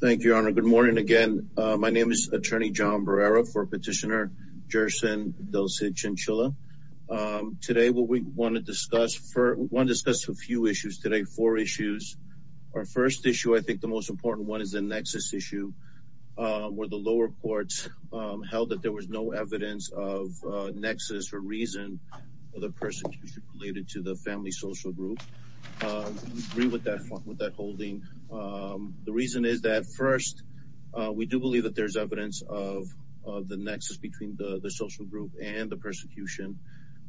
Thank you, Your Honor. Good morning again. My name is Attorney John Barrera for Petitioner Jerson Del Cid-Chinchilla. Today what we want to discuss, we want to discuss a few issues today, four issues. Our first issue, I think the most important one, is the nexus issue where the lower courts held that there was no evidence of nexus or reason for the persecution related to the family social group. We agree with that holding. The reason is that first, we do believe that there's evidence of the nexus between the social group and the persecution.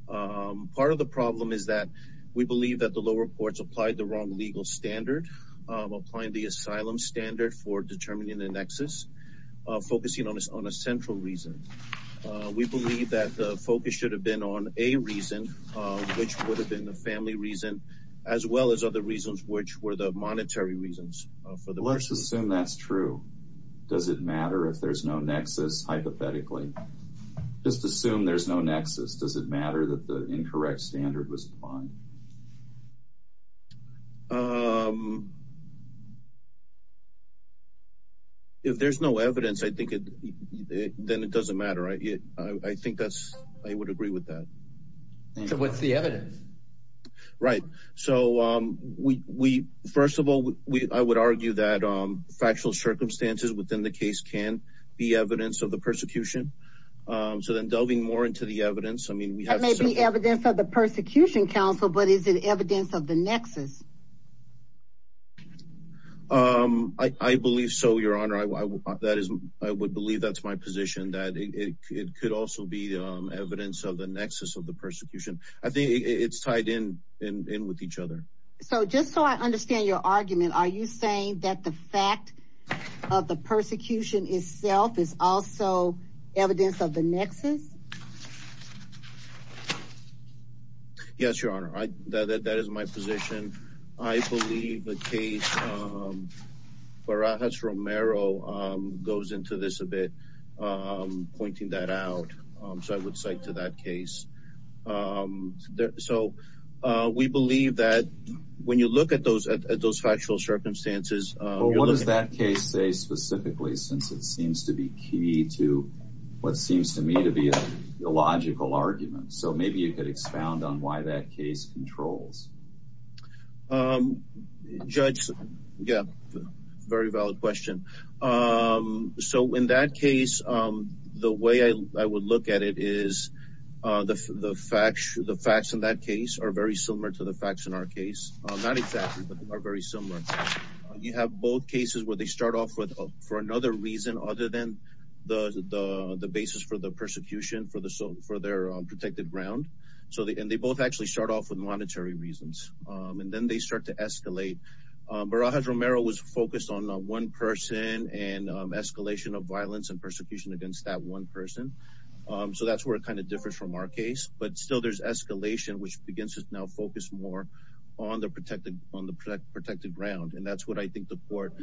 Part of the problem is that we believe that the lower courts applied the wrong legal standard, applying the asylum standard for determining the nexus, focusing on a central reason. We believe that the focus should have been on a reason, which would have been the family reason, as well as other reasons, which were the monetary reasons for the person. Let's assume that's true. Does it matter if there's no nexus, hypothetically? Just assume there's no nexus. Does it matter that the incorrect standard was applied? If there's no evidence, I think then it doesn't matter. I think that's, I would agree with that. So what's the evidence? Right. So we, first of all, I would argue that factual circumstances within the case can be evidence of the persecution. So then delving more into the evidence, I mean, that may be evidence of the persecution counsel, but is it evidence of the nexus? I believe so, Your Honor. I would believe that's my position, that it could also be evidence of the nexus of the persecution. I think it's tied in with each other. So just so I understand your argument, are you saying that the fact of the persecution itself is also evidence of the nexus? Yes, Your Honor. That is my position. I believe the case, Barajas-Romero goes into this a bit, pointing that out. So I would cite to that case. So we believe that when you look at those factual circumstances, you're looking at- Well, what does that case say specifically, since it seems to be key to what seems to me to be a logical argument? So maybe you could expound on why that case controls. Judge, yeah, very valid question. So in that case, the way I would look at it is the facts in that case are very similar to the facts in our case. Not exactly, but they are very similar. You have both cases where they start off for another reason other than the basis for the persecution for their protected ground. And they both actually start off with monetary reasons. And then they start to escalate. Barajas-Romero was focused on one person and escalation of violence and persecution against that one person. So that's where it kind of differs from our case. But still, there's escalation, which begins to now focus more on the protected ground. And that's what I think the court,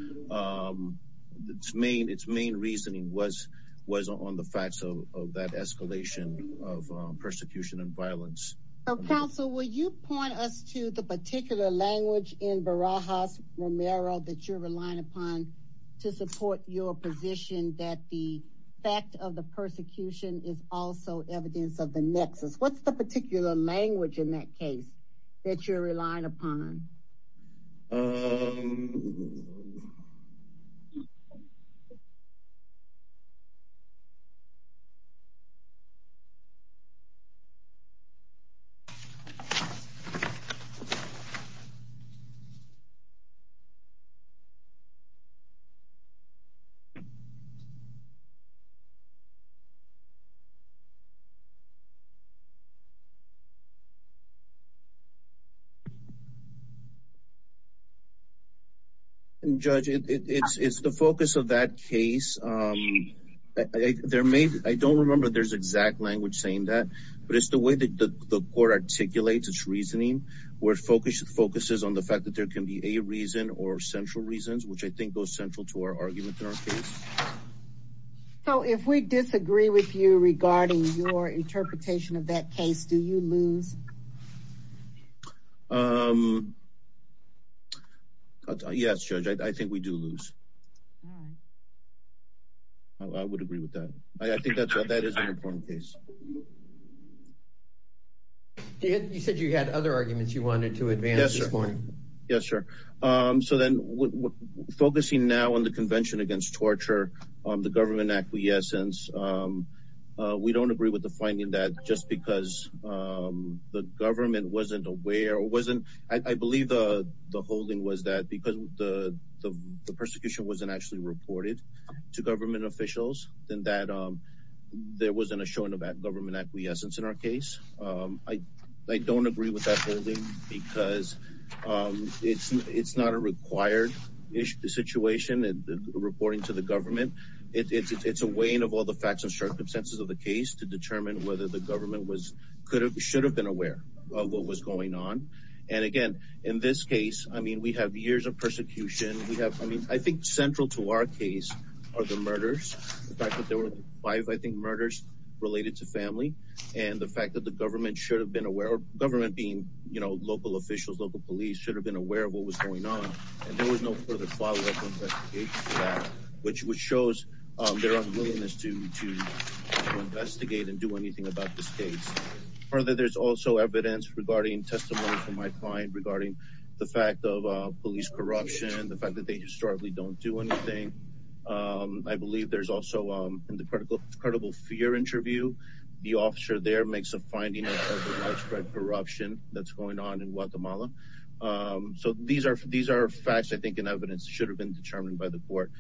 its main reasoning was on the facts of that escalation of persecution and violence. So counsel, will you point us to the particular language in Barajas-Romero that you're relying upon to support your position that the fact of the persecution is also evidence of the nexus? What's the particular language in that case that you're relying upon? Judge, it's the focus of that case. I don't remember there's exact language saying that, but it's the way that the court articulates its reasoning, where it focuses on the fact that there can be a reason or central reasons, which I think goes central to our argument in that case. Do you lose? Yes, Judge, I think we do lose. I would agree with that. I think that is an important case. You said you had other arguments you wanted to advance this morning. Yes, sir. So then focusing now on the Convention Against Torture, the government acquiescence, we don't agree with the finding that just because the government wasn't aware or wasn't, I believe the holding was that because the persecution wasn't actually reported to government officials, then that there wasn't a showing of that government acquiescence in our case. I don't agree with that holding because it's not a required situation reporting to the facts and circumstances of the case to determine whether the government should have been aware of what was going on. Again, in this case, we have years of persecution. I think central to our case are the murders, the fact that there were five, I think, murders related to family, and the fact that the government should have been aware, government being local officials, local police, should have been aware of what was going on. There was no further follow-up to that, which shows their unwillingness to investigate and do anything about this case. Further, there's also evidence regarding testimony from my client regarding the fact of police corruption, the fact that they historically don't do anything. I believe there's also, in the credible fear interview, the officer there makes a finding of widespread corruption that's facts, I think, and evidence should have been determined by the court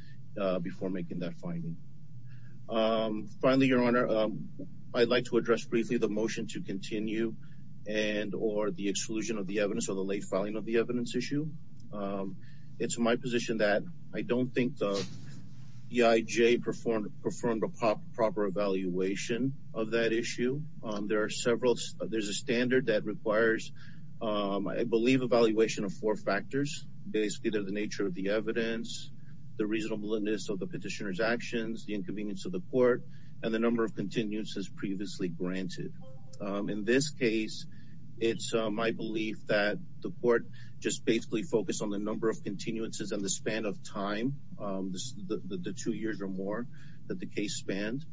before making that finding. Finally, Your Honor, I'd like to address briefly the motion to continue and or the exclusion of the evidence or the late filing of the evidence issue. It's my position that I don't think the EIJ performed a proper evaluation of that issue. There are several, there's a standard that requires, I believe, evaluation of four factors. Basically, they're the nature of the evidence, the reasonableness of the petitioner's actions, the inconvenience of the court, and the number of continuances previously granted. In this case, it's my belief that the court just basically focused on the number of continuances in the span of time, the two years or more that the case spanned,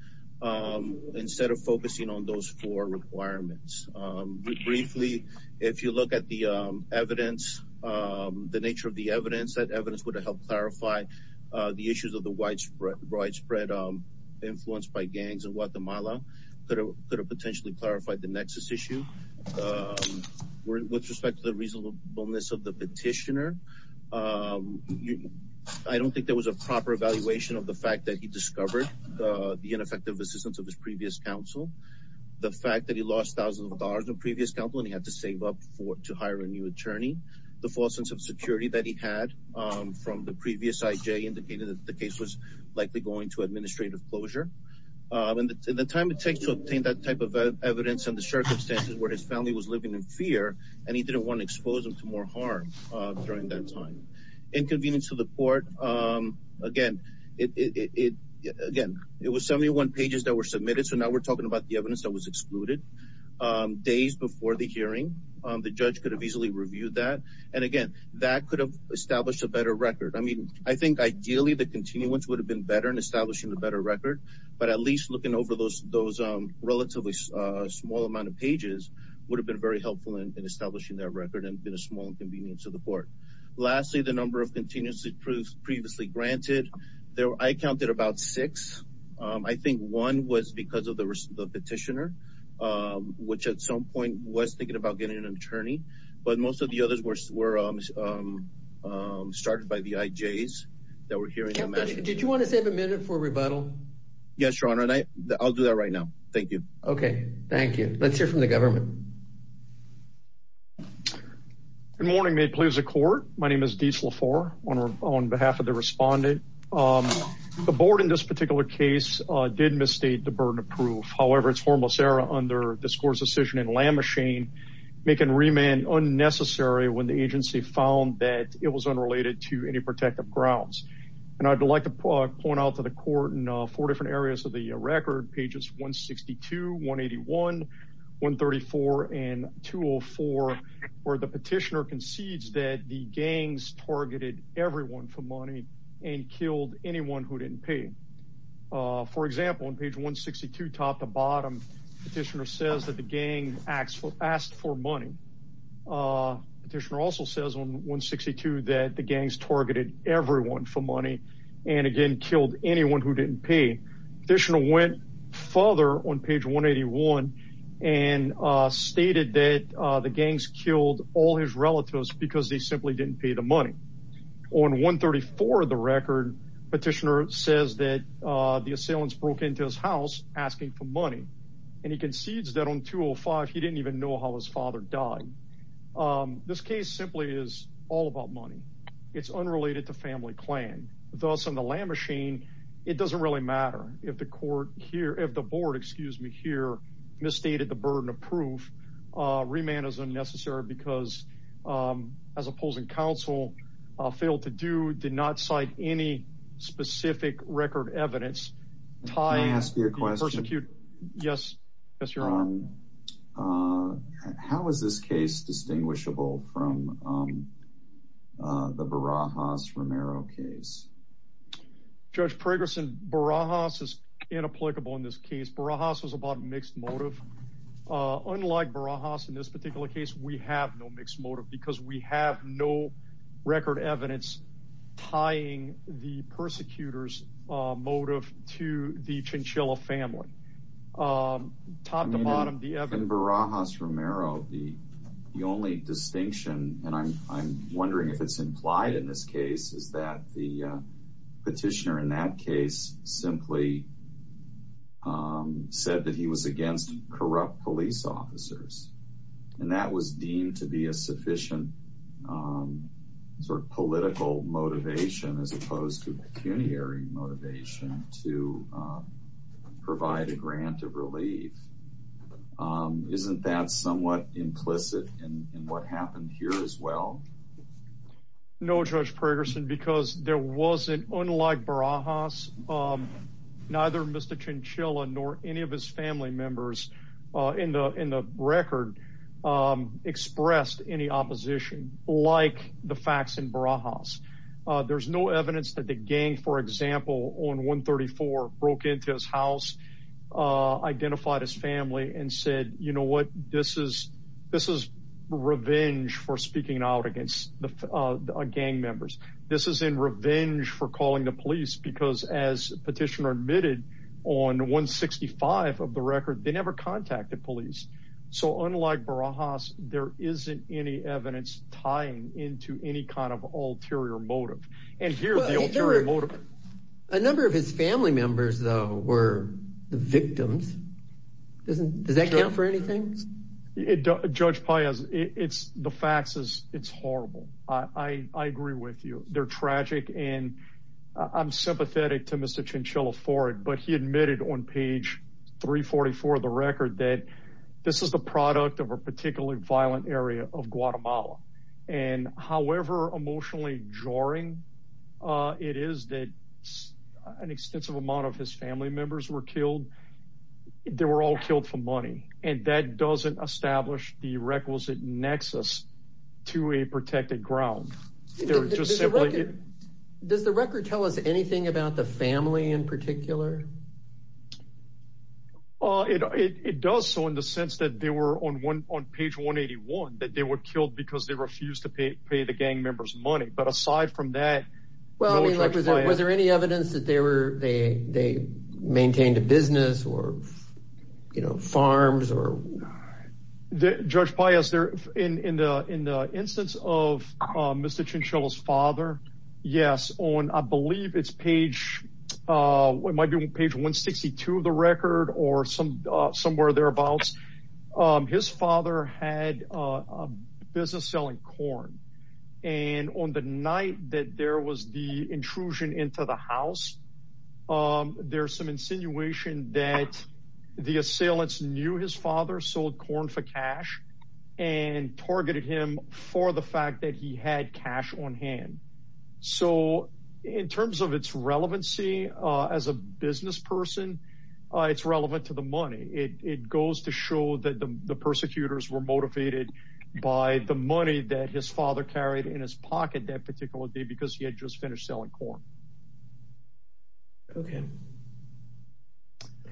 instead of focusing on those four requirements. Briefly, if you look at the evidence, the nature of the evidence, that evidence would have helped clarify the issues of the widespread influence by gangs in Guatemala, could have potentially clarified the nexus issue. With respect to the reasonableness of the petitioner, I don't think there was a proper evaluation of the fact that he discovered the ineffective assistance of his previous counsel, the fact that he lost thousands of dollars in previous counsel and he had to save up to hire a new attorney, the false sense of security that he had from the previous EIJ indicated that the case was likely going to administrative closure. In the time it takes to obtain that type of evidence and the circumstances where his family was living in fear, and he didn't want to expose them to more harm during that time. Inconvenience of the court, again, it was 71 pages that were submitted, so now we're talking about the evidence that was excluded days before the hearing. The judge could have easily reviewed that, and again, that could have established a better record. I mean, I think ideally, the continuance would have been better in establishing a better record, but at least looking over those relatively small amount of pages would have been very helpful in establishing that record and been a small inconvenience to the court. Lastly, the number of continuous approves previously granted, I counted about six. I think one was because of the petitioner, which at some point was thinking about getting an attorney, but most of the others were started by the EIJs that were hearing. Did you want to save a minute for rebuttal? Yes, your honor, and I'll do that right now. Thank you. Okay, thank you. Let's hear from the government. Good morning, may it please the court. My name is Deas Lafour on behalf of the respondent. The board in this particular case did misstate the burden of proof. However, it's formless error under this court's decision in Lamachine, making remand unnecessary when the agency found that it was unrelated to any protective grounds. I'd like to point out to the court in four different areas of the record, pages 162, 181, 134, and 204, where the petitioner concedes that the gangs targeted everyone for money and killed anyone who didn't pay. For example, on page 162, top to bottom, petitioner says that the gang asked for money. Petitioner also says on 162 that the gangs targeted everyone for money and again killed anyone who didn't pay. Petitioner went further on page 181 and stated that the gangs killed all his relatives because they simply didn't pay the money. On 134 of the record, petitioner says that the assailants broke into his house asking for and he concedes that on 205 he didn't even know how his father died. This case simply is all about money. It's unrelated to family clan. Thus, on the Lamachine, it doesn't really matter if the court here, if the board, excuse me, here misstated the burden of proof. Remand is unnecessary because as opposing counsel failed to do, did not cite any specific record evidence. Can I ask you a question? Yes, yes, you're on. How is this case distinguishable from the Barajas-Romero case? Judge Pregerson, Barajas is inapplicable in this case. Barajas was about mixed motive. Unlike Barajas in this particular case, we have no mixed motive because we have no record evidence tying the persecutors motive to the Chinchilla family. Top to bottom, the evidence. In Barajas-Romero, the only distinction, and I'm wondering if it's implied in this case, is that the petitioner in that case simply said that he was against corrupt police officers and that was deemed to be a sufficient sort of political motivation as opposed to pecuniary motivation to provide a grant of relief. Isn't that somewhat implicit in what happened here as well? No, Judge Pregerson, because there wasn't, unlike Barajas, neither Mr. Chinchilla nor any of his family members in the record expressed any opposition like the facts in Barajas. There's no evidence that the gang, for example, on 134 broke into his house, identified his family and said, you know what, this is revenge for speaking out against the gang members. This is in revenge for calling the police because as petitioner admitted on 165 of the record, they never contacted police. So unlike Barajas, there isn't any evidence tying into any kind of ulterior motive and here the ulterior motive. A number of his family members were the victims. Does that count for anything? Judge Paez, the facts, it's horrible. I agree with you. They're tragic and I'm sympathetic to Mr. Chinchilla for it but he admitted on page 344 of the record that this is the product of a particularly violent area of Guatemala and however emotionally jarring it is that an extensive amount of his family members were killed. They were all killed for money and that doesn't establish the requisite nexus to a protected ground. Does the record tell us anything about the family in particular? It does so in the sense that they were on page 181 that they were killed because they refused to pay the gang members money but aside from that, was there any evidence that they maintained a business or farms? Judge Paez, in the instance of Mr. Chinchilla's father, yes, on I believe page 162 of the record or somewhere thereabouts, his father had a business selling corn and on the night that there was the intrusion into the house, there's some insinuation that the assailants knew his father sold corn for cash and targeted him for the fact that he had cash on hand. So in terms of its relevancy as a business person, it's relevant to the money. It goes to show that the persecutors were motivated by the money that his father carried in his pocket that particular day because he had just finished selling corn. Okay.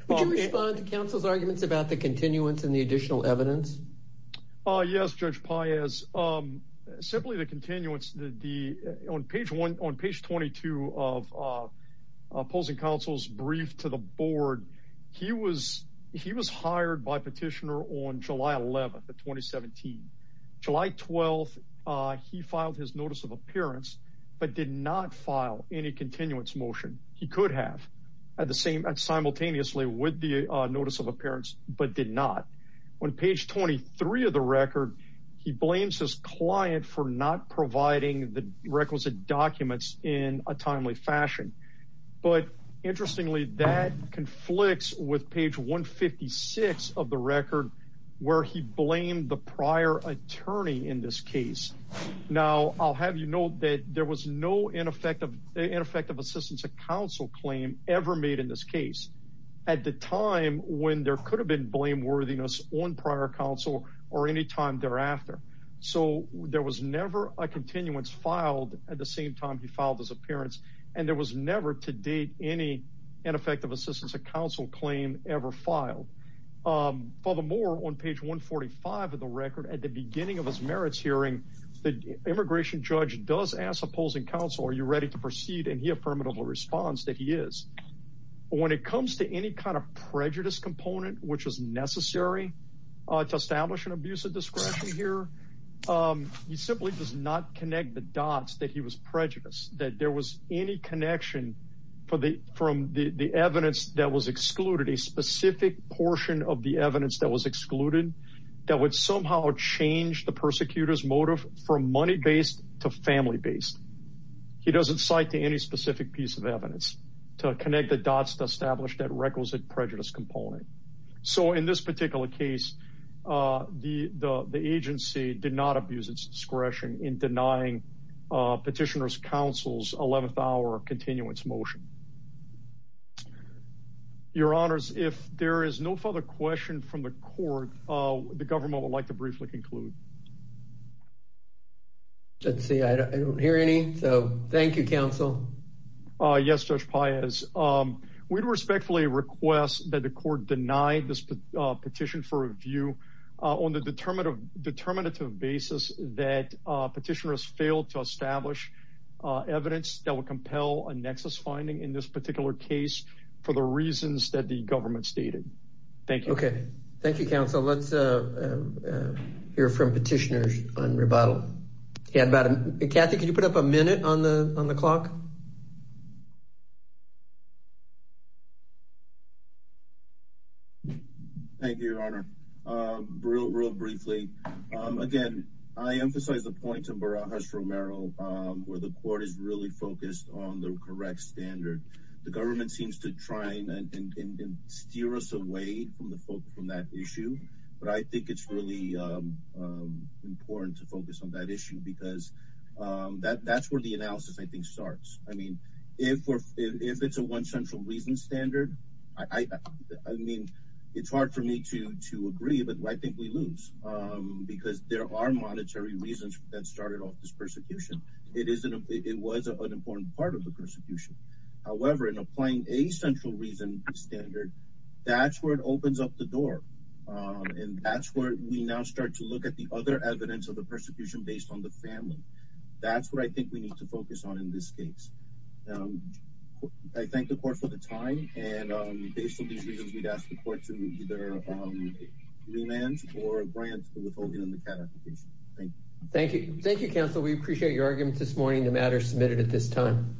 Would you respond to counsel's arguments about the continuance and the additional evidence? Yes, Judge Paez. Simply the continuance, on page 22 of opposing counsel's brief to the board, he was hired by petitioner on July 11th of 2017. July 12th, he filed his notice of appearance but did not file any continuance motion. He could have at the same and simultaneously with the 23 of the record, he blames his client for not providing the requisite documents in a timely fashion. But interestingly, that conflicts with page 156 of the record where he blamed the prior attorney in this case. Now, I'll have you know that there was no ineffective assistance of counsel claim ever made in this case. At the time when there could have been blameworthiness on prior counsel or anytime thereafter. So, there was never a continuance filed at the same time he filed his appearance and there was never to date any ineffective assistance of counsel claim ever filed. Furthermore, on page 145 of the record, at the beginning of his merits hearing, the immigration judge does ask opposing counsel, are you ready to proceed? And he affirmatively responds that he is. When it comes to any kind of prejudice component which is necessary to establish an abuse of discretion here, he simply does not connect the dots that he was prejudiced. That there was any connection from the evidence that was excluded, a specific portion of the evidence that was excluded that would somehow change the persecutor's motive from money-based to family-based. He doesn't cite to any specific piece of evidence to connect the dots to establish that requisite prejudice component. So, in this particular case, the agency did not abuse its discretion in denying petitioner's counsel's 11th hour continuance motion. Your honors, if there is no further question from the court, the government would like to briefly conclude. Let's see, I don't hear any. So, thank you, counsel. Yes, Judge Paez. We'd respectfully request that the court deny this petition for review on the determinative basis that petitioners failed to establish evidence that would compel a nexus finding in this particular case for the reasons that the government stated. Thank you. Thank you, counsel. Let's hear from petitioners on rebuttal. Kathy, can you put up a minute on the clock? Thank you, your honor. Real briefly, again, I emphasize the point of Barajas-Romero where the court is really focused on the correct standard. The government seems to try and steer us away from that issue, but I think it's really important to focus on that issue because that's where the analysis, I think, starts. I mean, if it's a one central reason standard, I mean, it's hard for me to agree, but I think we lose because there are monetary reasons that started off this persecution. It was an important part of the persecution. However, in applying a central reason standard, that's where it opens up the door, and that's where we now start to look at the other evidence of the persecution based on the family. That's what I think we need to focus on in this case. I thank the court for the time, and based on these reasons, we'd ask the court to either remand or grant the withholding of the CAT application. Thank you. Thank you. Thank you, counsel. We appreciate your argument this morning. The matter is submitted at this time.